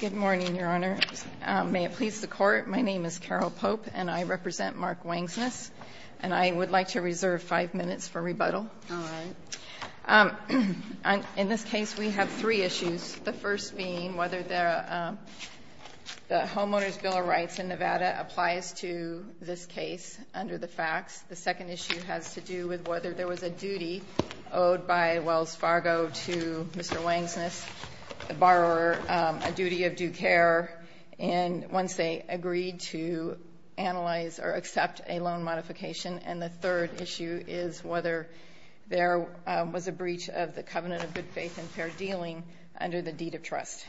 Good morning, Your Honor. May it please the Court, my name is Carol Pope and I represent Mark Wangsness and I would like to reserve five minutes for rebuttal. In this case, we have three issues, the first being whether there the Homeowners Bill of Rights in Nevada applies to this case under the facts. The second issue has to do with whether there was a duty owed by Wells Fargo to Mr. Wangsness, the borrower, a duty of due care and once they agreed to analyze or accept a loan modification. And the third issue is whether there was a breach of the Covenant of Good Faith and Fair Dealing under the deed of trust.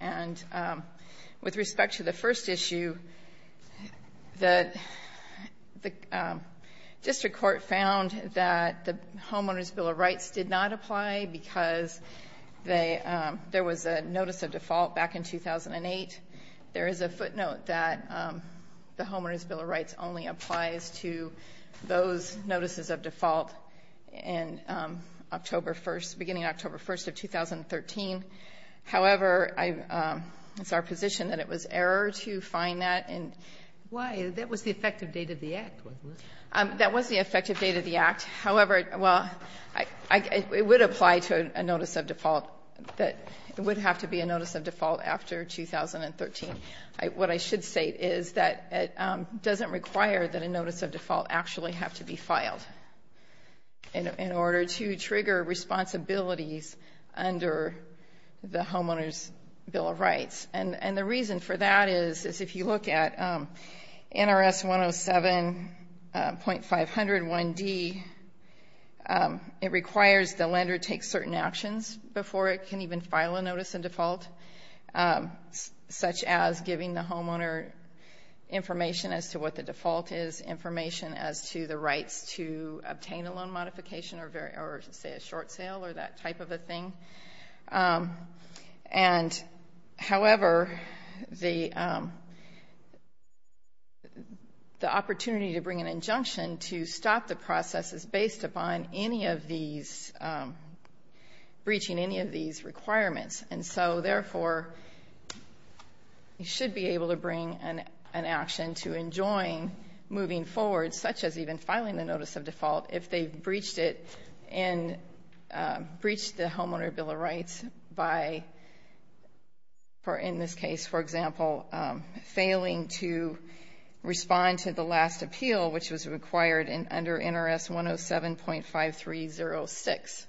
And with respect to the first issue, the District Court found that the Homeowners Bill of There was a notice of default back in 2008. There is a footnote that the Homeowners Bill of Rights only applies to those notices of default in October 1st, beginning October 1st of 2013. However, it's our position that it was error to find that. Why? That was the effective date of the act. That was the effective date of the act. However, well, it would apply to a notice of default that it would have to be a notice of default after 2013. What I should say is that it doesn't require that a notice of default actually have to be filed in order to trigger responsibilities under the Homeowners Bill of Rights. And the reason for that is if you look at NRS 107.5001D, it requires the lender take certain actions before it can even file a notice of default, such as giving the homeowner information as to what the default is, information as to the rights to obtain a loan modification or say a short sale or that type of a thing. And however, the opportunity to bring an injunction to stop the process is based upon any of these, breaching any of these requirements. And so therefore, you should be able to bring an action to enjoin moving forward, such as even filing the notice of default, if they breached it and breached the Homeowners Bill of Rights, or in this case, for example, failing to respond to the last appeal, which was required under NRS 107.5306.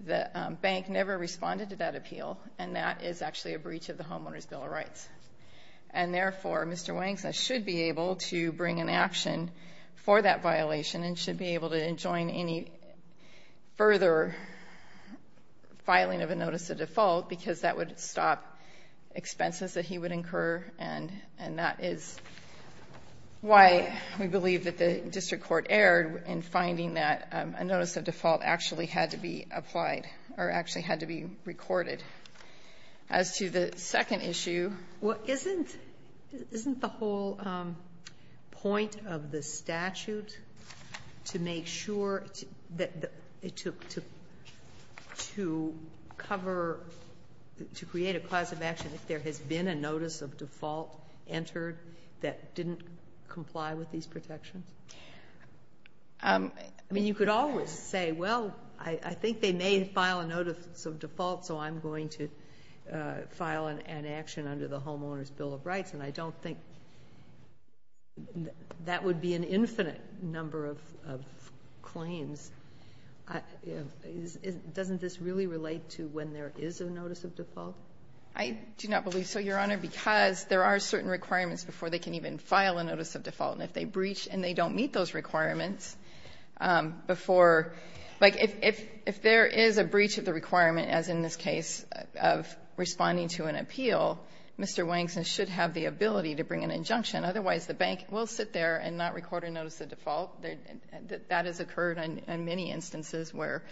The bank never responded to that appeal, and that is actually a breach of the Homeowners Bill of Rights. And therefore, Mr. Wanksa should be able to bring an action for that violation and should be able to enjoin any further filing of a notice of default because that would stop expenses that he would incur. And that is why we believe that the district court erred in finding that a notice of default actually had to be applied or actually had to be recorded. As to the second issue... create a clause of action if there has been a notice of default entered that didn't comply with these protections? I mean, you could always say, well, I think they may file a notice of default, so I'm going to file an action under the Homeowners Bill of Rights, and I don't think that would be an infinite number of I do not believe so, Your Honor, because there are certain requirements before they can even file a notice of default. And if they breach and they don't meet those requirements before... like, if there is a breach of the requirement, as in this case of responding to an appeal, Mr. Wanksa should have the ability to bring an injunction. Otherwise, the bank will sit there and not record a notice of default. That has occurred in many instances where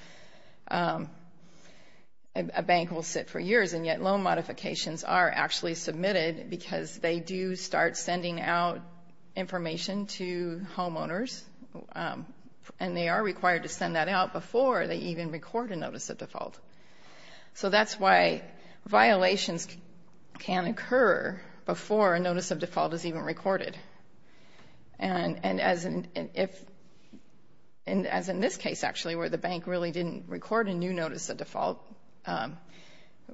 a bank will sit for years, and yet loan modifications are actually submitted because they do start sending out information to homeowners. And they are required to send that out before they even record a notice of default. So that's why violations can occur before a notice of default is even recorded. And as in this case, actually, where the bank really didn't record a new notice of default,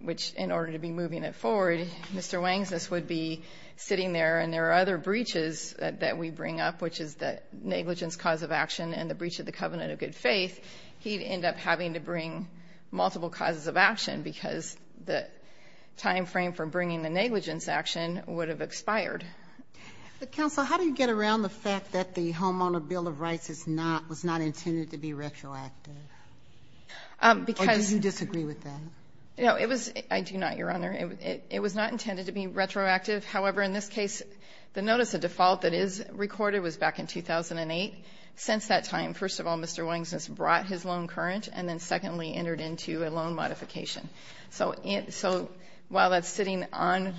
which in order to be moving it forward, Mr. Wanksa would be sitting there, and there are other breaches that we bring up, which is the negligence cause of action and the breach of the covenant of good faith. He'd end up having to bring multiple causes of action because the time frame for bringing the negligence action would have expired. But, Counsel, how do you get around the fact that the Homeowner Bill of Rights was not intended to be retroactive? Or do you disagree with that? I do not, Your Honor. It was not intended to be retroactive. However, in this case, the notice of default that is recorded was back in 2008. Since that time, first of all, Mr. Wanksa has brought his loan current, and then secondly, entered into a loan modification. So while that's sitting on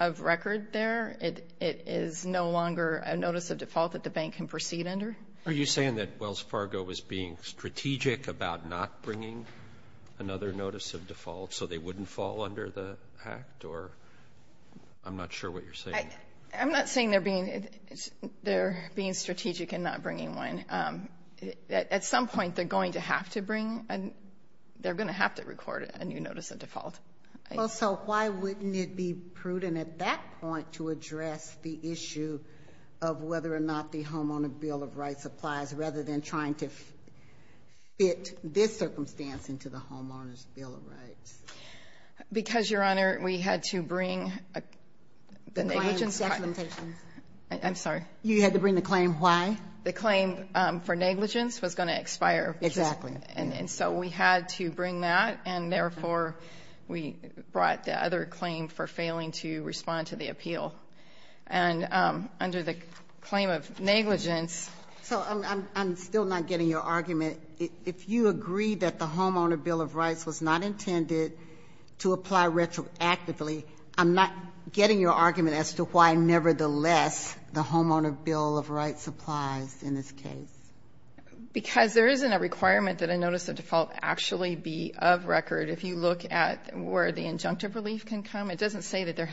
of record there, it is no longer a notice of default that the bank can proceed under. Are you saying that Wells Fargo is being strategic about not bringing another notice of default so they wouldn't fall under the act? Or I'm not sure what you're saying. I'm not saying they're being strategic in not bringing one. At some point, they're going to have to bring, and they're going to have to record a new notice of default. Well, so why wouldn't it be prudent at that point to address the issue of whether or not the Homeowner's Bill of Rights applies, rather than trying to fit this circumstance into the Homeowner's Bill of Rights? Because, Your Honor, we had to bring the negligence. I'm sorry. You had to bring the claim. Why? The claim for negligence was going to expire. Exactly. And so we had to bring that, and therefore, we brought the other claim for negligence. So I'm still not getting your argument. If you agree that the Homeowner's Bill of Rights was not intended to apply retroactively, I'm not getting your argument as to why, nevertheless, the Homeowner's Bill of Rights applies in this case. Because there isn't a requirement that a notice of default actually be of record. If you look at where the injunctive relief can come, it doesn't say that there is.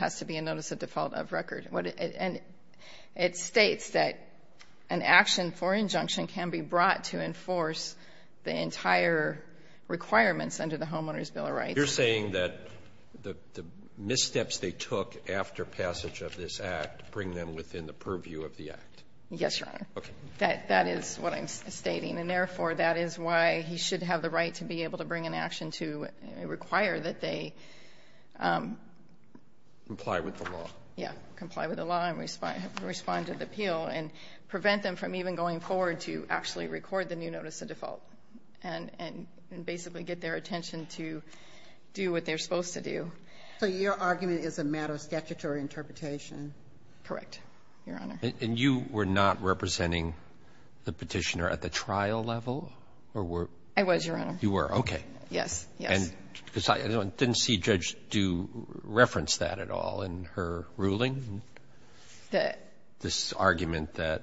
It states that an action for injunction can be brought to enforce the entire requirements under the Homeowner's Bill of Rights. You're saying that the missteps they took after passage of this Act bring them within the purview of the Act. Yes, Your Honor. Okay. That is what I'm stating, and therefore, that is why he should have the right to be able to bring an action to require that they... Comply with the law. Yeah, comply with the law and respond to the appeal, and prevent them from even going forward to actually record the new notice of default and basically get their attention to do what they're supposed to do. So your argument is a matter of statutory interpretation? Correct, Your Honor. And you were not representing the Petitioner at the trial level, or were... I was, Your Honor. You were. Okay. Yes, yes. Because I didn't see Judge Dew reference that at all in her ruling, this argument that...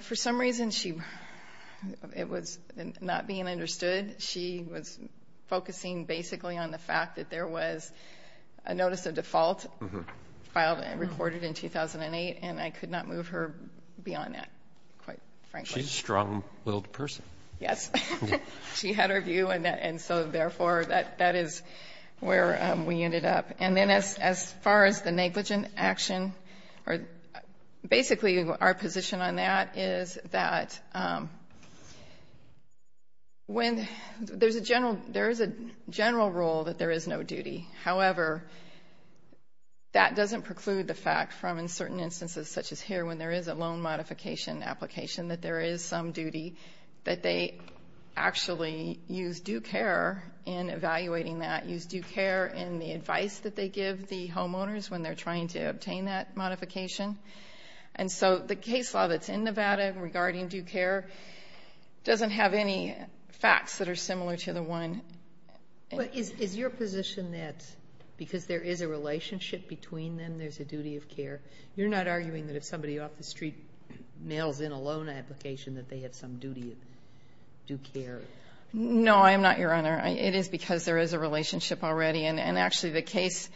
For some reason, it was not being understood. She was focusing basically on the fact that there was a notice of default filed and recorded in 2008, and I could not move her beyond that, quite frankly. She's a strong-willed person. Yes. She had her view, and so, therefore, that is where we ended up. And then as far as the negligent action, basically our position on that is that when... There's a general rule that there is no duty. However, that doesn't preclude the fact from, in certain instances such as here, when there is a loan modification application, that there is some duty, that they actually use due care in evaluating that, use due care in the advice that they give the homeowners when they're trying to obtain that modification. And so the case law that's in Nevada regarding due care doesn't have any facts that are similar to the one... But is your position that because there is a relationship between them, there's a duty of care? You're not arguing that if somebody off the street mails in a loan application that they have some duty of due care? No, I'm not, Your Honor. It is because there is a relationship already, and actually the case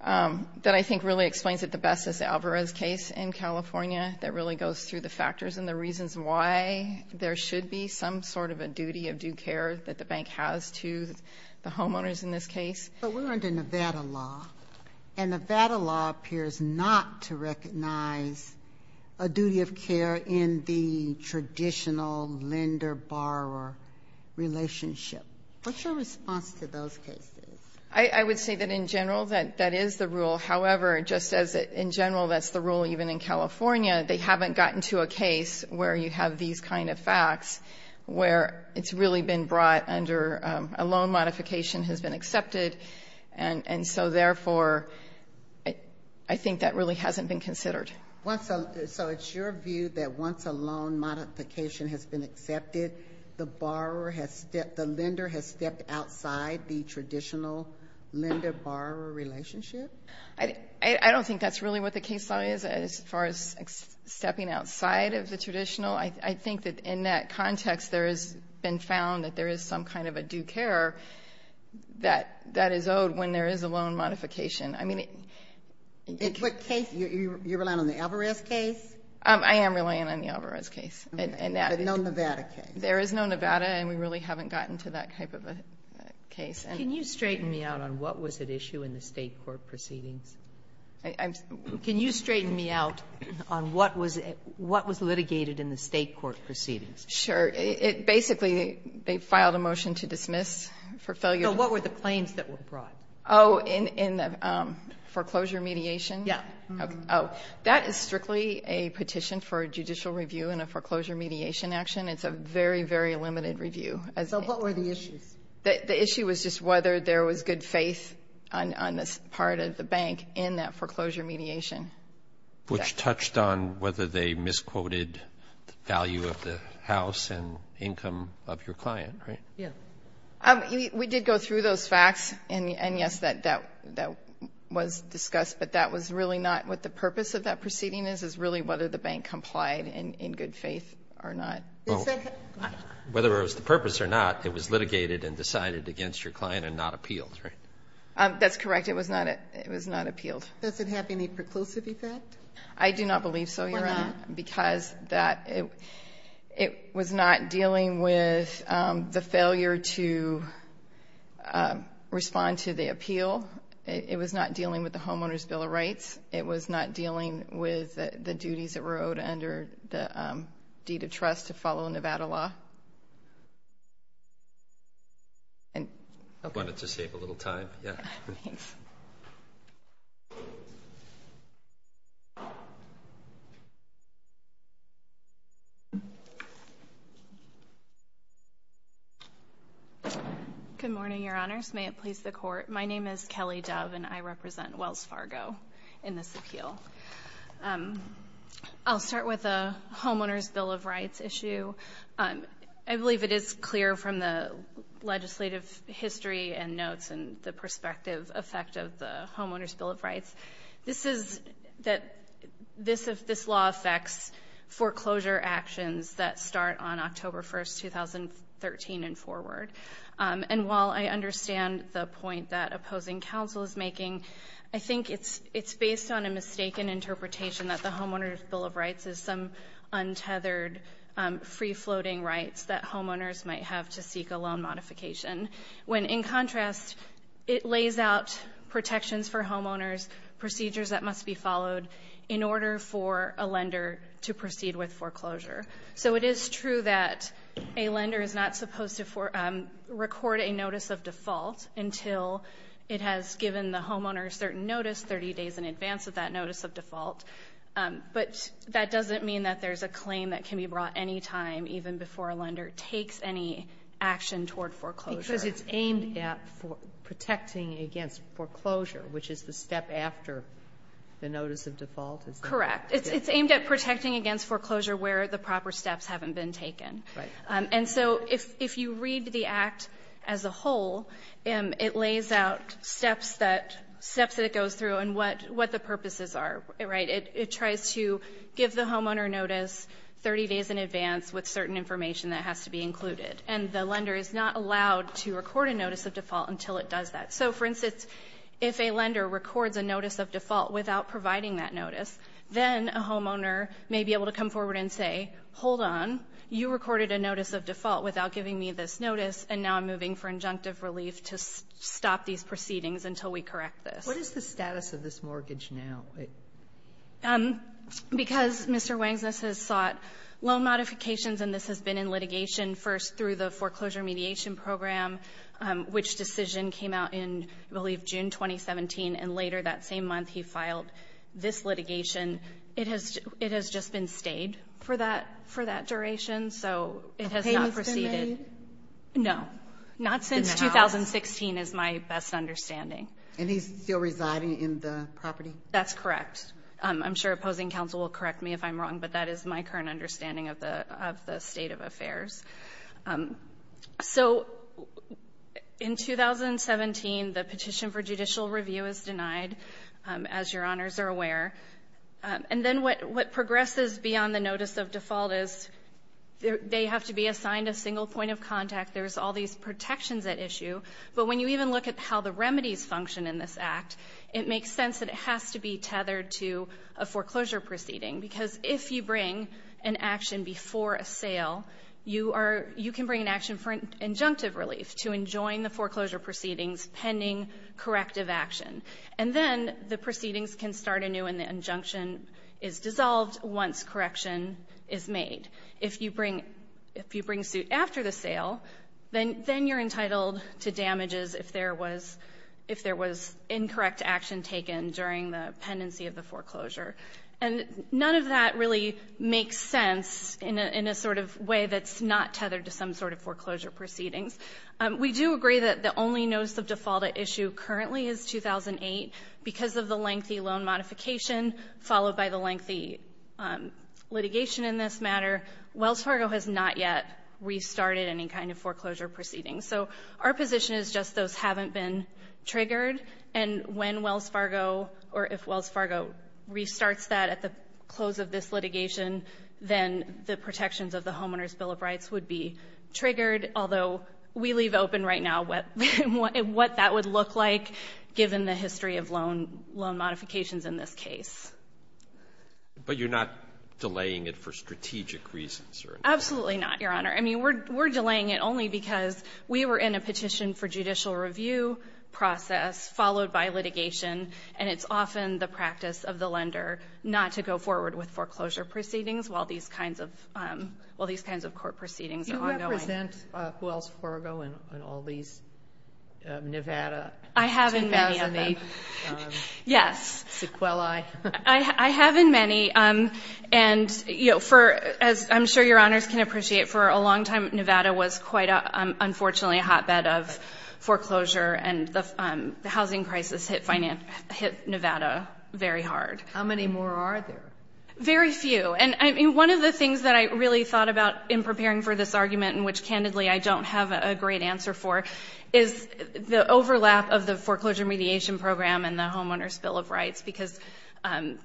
that I think really explains it the best is Alvarez case in California that really goes through the factors and the reasons why there should be some sort of a duty of due care that the bank has to the homeowners in this case. But we're under Nevada law, and Nevada law appears not to recognize a duty of care in the traditional lender-borrower relationship. What's your response to those cases? I would say that in general, that is the rule. However, just as in general, that's the rule even in California, they haven't gotten to a case where you have these kind of facts, where it's really been brought under a loan modification has been accepted. And so therefore, I think that really hasn't been considered. So it's your view that once a loan modification has been accepted, the lender has stepped outside the traditional lender-borrower relationship? I don't think that's really what the case law is as far as stepping outside of the traditional. I think that in that context, there has been found that there is some kind of a due care that is owed when there is a loan modification. I mean... In what case? You're relying on the Alvarez case? I am relying on the Alvarez case. But no Nevada case? There is no Nevada, and we really haven't gotten to that type of a case. Can you straighten me out on what was at issue in the state court proceedings? Can you straighten me out on what was litigated in the state court proceedings? Sure. Basically, they filed a motion to dismiss for failure. So what were the claims that were brought? Oh, in the foreclosure mediation? Yeah. Oh, that is strictly a petition for judicial review in a foreclosure mediation action. It's a very, very limited review. So what were the issues? The issue was just whether there was good faith on this part of the bank in that foreclosure mediation. Which touched on whether they misquoted the value of the house and income of your client, right? Yeah. We did go through those facts, and yes, that was discussed. But that was really not what the purpose of that proceeding is, is really whether the bank complied in good faith or not. Whether it was the purpose or not, it was litigated and decided against your client and not appealed, right? That's correct. It was not appealed. Does it have any preclusive effect? I do not believe so, Your Honor, because it was not dealing with the failure to respond to the appeal. It was not dealing with the Homeowner's Bill of Rights. It was not dealing with the duties that were owed under the deed of trust to follow Nevada law. I wanted to save a little time, yeah. Good morning, Your Honors. May it please the Court. My name is Kelly Dove, and I represent Wells Fargo. In this appeal, I'll start with the Homeowner's Bill of Rights issue. I believe it is clear from the legislative history and notes and the perspective effect of the Homeowner's Bill of Rights. This is that this law affects foreclosure actions that start on October 1st, 2013 and forward. And while I understand the point that opposing counsel is making, I think it's based on a mistaken interpretation that the Homeowner's Bill of Rights is some untethered, free-floating rights that homeowners might have to seek a loan modification. When in contrast, it lays out protections for homeowners, procedures that must be followed in order for a lender to proceed with foreclosure. So it is true that a lender is not supposed to record a notice of default until it has given the homeowner a certain notice 30 days in advance of that notice of default. But that doesn't mean that there's a claim that can be brought any time, even before a lender takes any action toward foreclosure. Because it's aimed at protecting against foreclosure, which is the step after the notice of default? Correct. It's aimed at protecting against foreclosure where the proper steps haven't been taken. And so if you read the Act as a whole, it lays out steps that it goes through and what the purposes are. It tries to give the homeowner a notice 30 days in advance with certain information that has to be included. And the lender is not allowed to record a notice of default until it does that. So for instance, if a lender records a notice of default without providing that notice, then a homeowner may be able to come forward and say, hold on, you recorded a notice of default without giving me this notice and now I'm moving for injunctive relief to stop these proceedings until we correct this. What is the status of this mortgage now? Because Mr. Wangsness has sought loan modifications and this has been in litigation first through the foreclosure mediation program, which decision came out in, I believe, June 2017. And later that same month, he filed this litigation. It has just been stayed for that duration. So it has not proceeded. No. Not since 2016 is my best understanding. And he's still residing in the property? That's correct. I'm sure opposing counsel will correct me if I'm wrong, but that is my current understanding of the state of affairs. So in 2017, the petition for judicial review is denied, as your honors are aware. And then what progresses beyond the notice of default is they have to be assigned a single point of contact. There's all these protections at issue. But when you even look at how the remedies function in this act, it makes sense that it has to be tethered to a foreclosure proceeding. Because if you bring an action before a sale, you can bring an action for an injunctive relief to enjoin the foreclosure proceedings pending corrective action. And then the proceedings can start anew and the injunction is dissolved once correction is made. If you bring suit after the sale, then you're entitled to damages if there was incorrect action taken during the pendency of the foreclosure. And none of that really makes sense in a sort of way that's not tethered to some sort of foreclosure proceedings. We do agree that the only notice of default at issue currently is 2008. Because of the lengthy loan modification, followed by the lengthy litigation in this matter, Wells Fargo has not yet restarted any kind of foreclosure proceedings. So our position is just those haven't been triggered. And when Wells Fargo, or if Wells Fargo, restarts that at the close of this litigation, then the protections of the Homeowner's Bill of Rights would be triggered, although we leave open right now what that would look like given the history of loan modifications in this case. But you're not delaying it for strategic reasons? Absolutely not, Your Honor. I mean, we're delaying it only because we were in a petition for judicial review process followed by litigation, and it's often the practice of the lender not to go forward with foreclosure proceedings while these kinds of court proceedings are ongoing. Do you represent Wells Fargo in all these? Nevada? I have in many of them. Yes. Sequelae? I have in many. And for, as I'm sure Your Honors can appreciate, for a long time, Nevada was quite, unfortunately, a hotbed of foreclosure, and the housing crisis hit Nevada very hard. How many more are there? Very few. And one of the things that I really thought about in preparing for this argument, and which, candidly, I don't have a great answer for, is the overlap of the foreclosure mediation program and the Homeowner's Bill of Rights because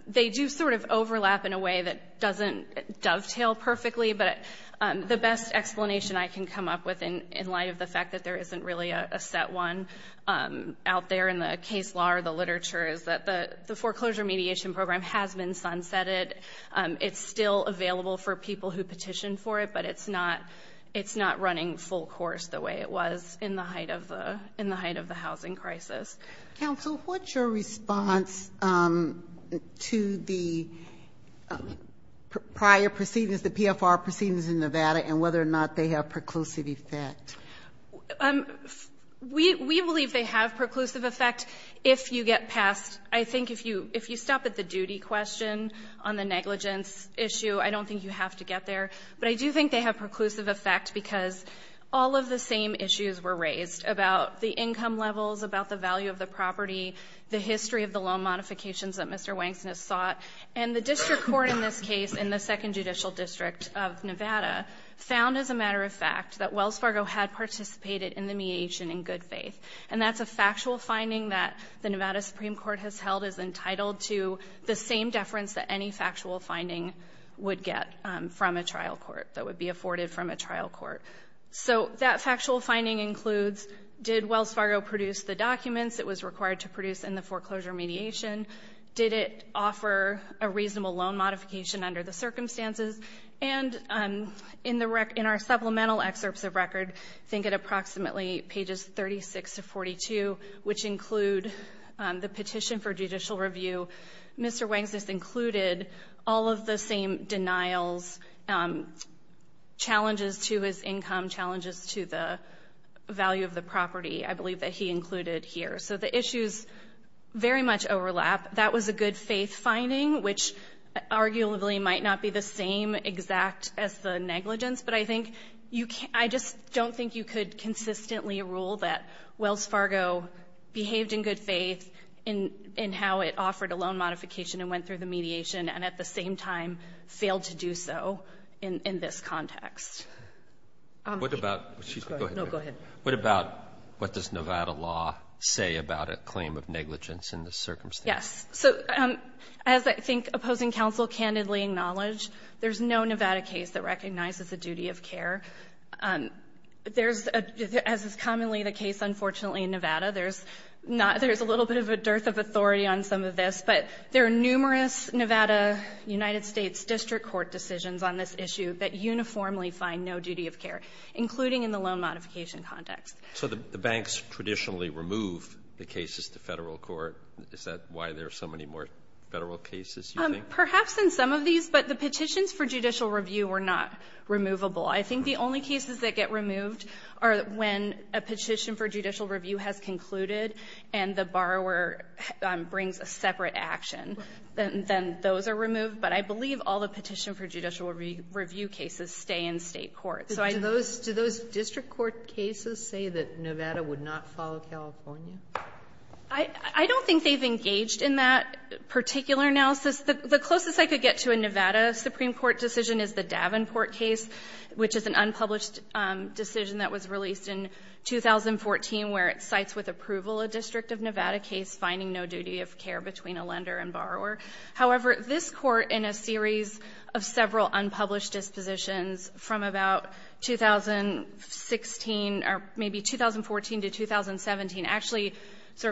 they do sort of overlap in a way that doesn't dovetail perfectly, but the best explanation I can come up with in light of the fact that there isn't really a set one out there in the case law or the literature is that the foreclosure mediation program has been sunsetted. It's still available for people who petitioned for it, but it's not running full course the way it was in the height of the housing crisis. Counsel, what's your response to the prior proceedings, the PFR proceedings in Nevada, and whether or not they have preclusive effect? We believe they have preclusive effect if you get past... I think if you stop at the duty question on the negligence issue, I don't think you have to get there, but I do think they have preclusive effect because all of the same issues were raised about the income levels, about the value of the property, the history of the loan modifications that Mr. Wankson has sought, and the district court in this case in the 2nd Judicial District of Nevada found as a matter of fact that Wells Fargo had participated in the mediation in good faith, and that's a factual finding that the Nevada Supreme Court has held is entitled to the same deference that any factual finding would get from a trial court, that would be afforded from a trial court. So that factual finding includes did Wells Fargo produce the documents it was required to produce in the foreclosure mediation? Did it offer a reasonable loan modification under the circumstances? And in our supplemental excerpts of record, I think at approximately pages 36 to 42, which include the petition for judicial review, Mr. Wankson has included all of the same denials, challenges to his income, challenges to the value of the property, I believe that he included here. So the issues very much overlap. That was a good faith finding, which arguably might not be the same exact as the negligence, but I think I just don't think you could consistently rule that Wells Fargo behaved in good faith in how it offered a loan modification and went through the mediation and at the same time failed to do so in this context. What about what does Nevada law say about a claim of negligence in this circumstance? As I think opposing counsel candidly acknowledge, there's no Nevada case that recognizes the duty of care. As is commonly the case unfortunately in Nevada, there's a little bit of a dearth of authority on some of this, but there are numerous Nevada, United States district court decisions on this issue that uniformly find no duty of care including in the loan modification context. So the banks traditionally remove the cases to federal court. Is that why there are so many more federal cases? Perhaps in some of these, but the petitions for judicial review were not removable. I think the only cases that get removed are when a petition for judicial review has concluded and the borrower brings a separate action. Then those are removed, but I believe all the petition for judicial review cases stay in state court. Do those district court cases say that Nevada would not follow California? I don't think they've engaged in that particular analysis. The closest I could get to a Nevada Supreme Court decision is the Davenport case, which is an unpublished decision that was released in 2014 where it cites with approval a district of Nevada case finding no duty of care between a lender and borrower. However, this court in a series of several unpublished dispositions from about 2016 or maybe 2014 to 2017 actually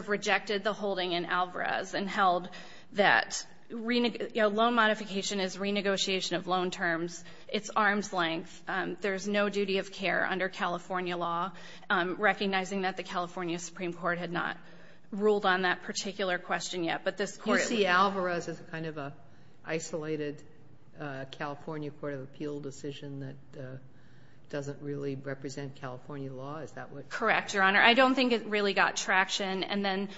rejected the holding in Alvarez and held that loan modification is renegotiation of loan terms. It's arm's length. There's no duty of care under California law, recognizing that the California Supreme Court had not ruled on that particular question yet. You see Alvarez as kind of an isolated California Court of Appeal decision that doesn't really represent California law? Correct, Your Honor. I don't think it really got traction. And then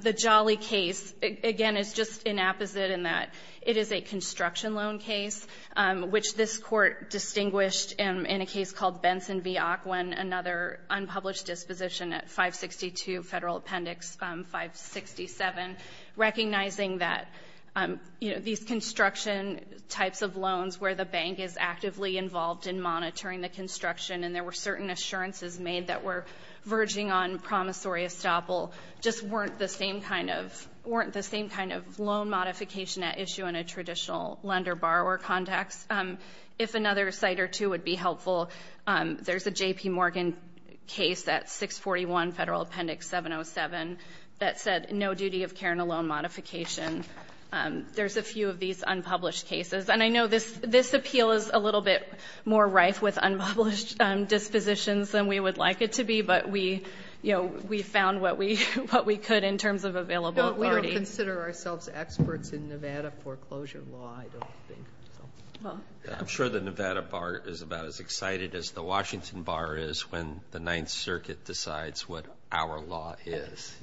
the Jolly case, again, is just an apposite in that it is a construction loan case which this court distinguished in a case called Benson v. Ocwen, another unpublished disposition at 562 Federal Appendix 567, recognizing that these construction types of loans where the bank is actively involved in monitoring the construction and there were certain assurances made that were verging on promissory estoppel just weren't the same kind of loan modification at issue in a traditional lender-borrower context. If another site or two would be helpful, there's a J.P. Morgan case at 641 Federal Appendix 707 that said no duty of care in a loan modification. There's a few of these unpublished cases. And I know this appeal is a little bit more rife with unpublished dispositions than we would like it to be, but we found what we could in terms of available authority. But we don't consider ourselves experts in Nevada foreclosure law, I don't think. I'm sure the Nevada Bar is about as excited as the Washington Bar is when the Ninth Circuit decides what our law is.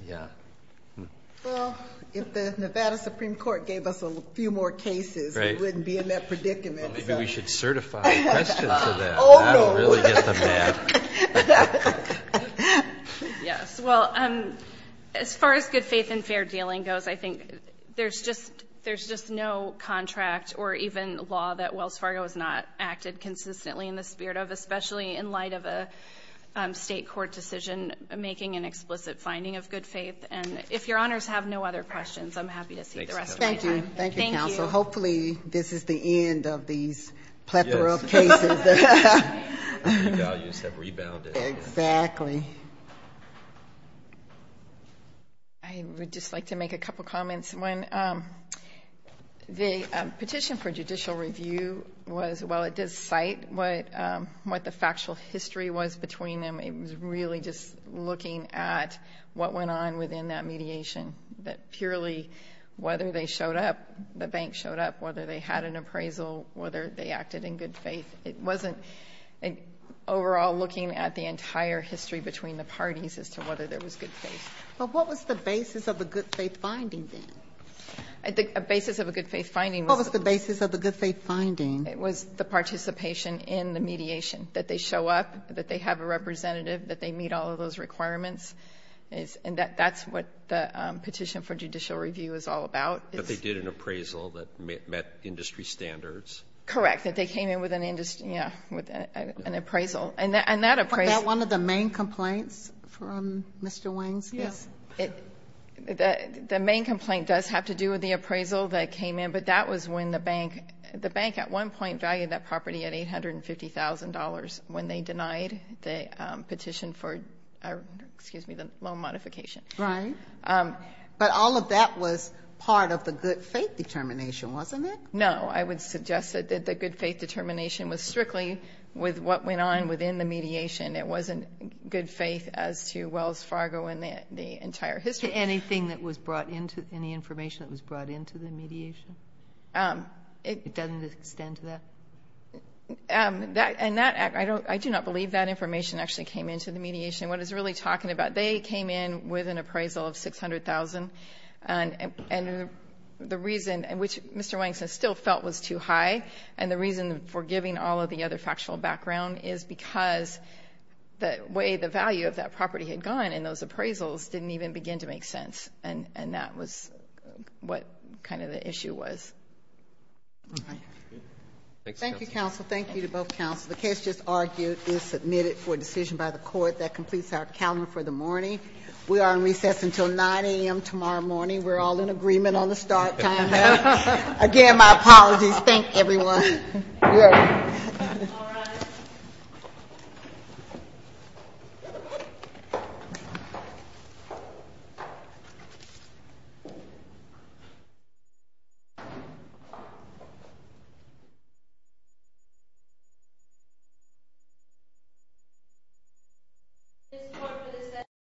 Well, if the Nevada Supreme Court gave us a few more cases, we wouldn't be in that predicament. Maybe we should certify questions of that. That would really get them mad. Yes. Well, as far as good faith and fair dealing goes, I think there's just no contract or even law that Wells Fargo has not acted consistently in the spirit of, especially in light of a state court decision making an explicit finding of good faith. And if your honors have no other questions, I'm happy to seat the rest of my time. Thank you, counsel. Hopefully this is the end of these plethora of cases. The values have rebounded. Exactly. I would just like to make a couple comments. The petition for judicial review was well, it did cite what the factual history was between them. It was really just looking at what went on within that mediation. That purely whether they showed up, the bank showed up, whether they had an appraisal, whether they acted in good faith. It wasn't overall looking at the entire history between the parties as to whether there was good faith. But what was the basis of the good faith finding then? The basis of a good faith finding was the participation in the mediation. That they show up, that they have a representative, that they meet all of those requirements. And that's what the petition for judicial review is all about. But they did an appraisal that met industry standards. Correct. That they came in with an appraisal. And that appraisal Was that one of the main complaints from Mr. Wings? Yes. The main complaint does have to do with the appraisal that came in. But that was when the bank at one point valued that property at $850,000 when they denied the petition for the loan modification. Right. But all of that was part of the good faith determination, wasn't it? No. I would suggest that the good faith determination was strictly with what went on within the mediation. It wasn't good faith as to Wells Fargo and the entire history. Anything that was brought into any information that was brought into the mediation? It doesn't extend to that? I do not believe that information actually came into the mediation. What it's really talking about, they came in with an appraisal of $600,000. And the reason, which Mr. Wings still felt was too high, and the reason for giving all of the other factual background is because the way the value of that property had gone in those appraisals didn't even begin to make sense. And that was what kind of the issue was. Thank you, counsel. Thank you to both counsel. The case just argued is submitted for decision by the court. That completes our calendar for the morning. We are on recess until 9 a.m. tomorrow morning. We're all in agreement on the start time. Again, my apologies. Thank everyone. You're welcome. Thank you.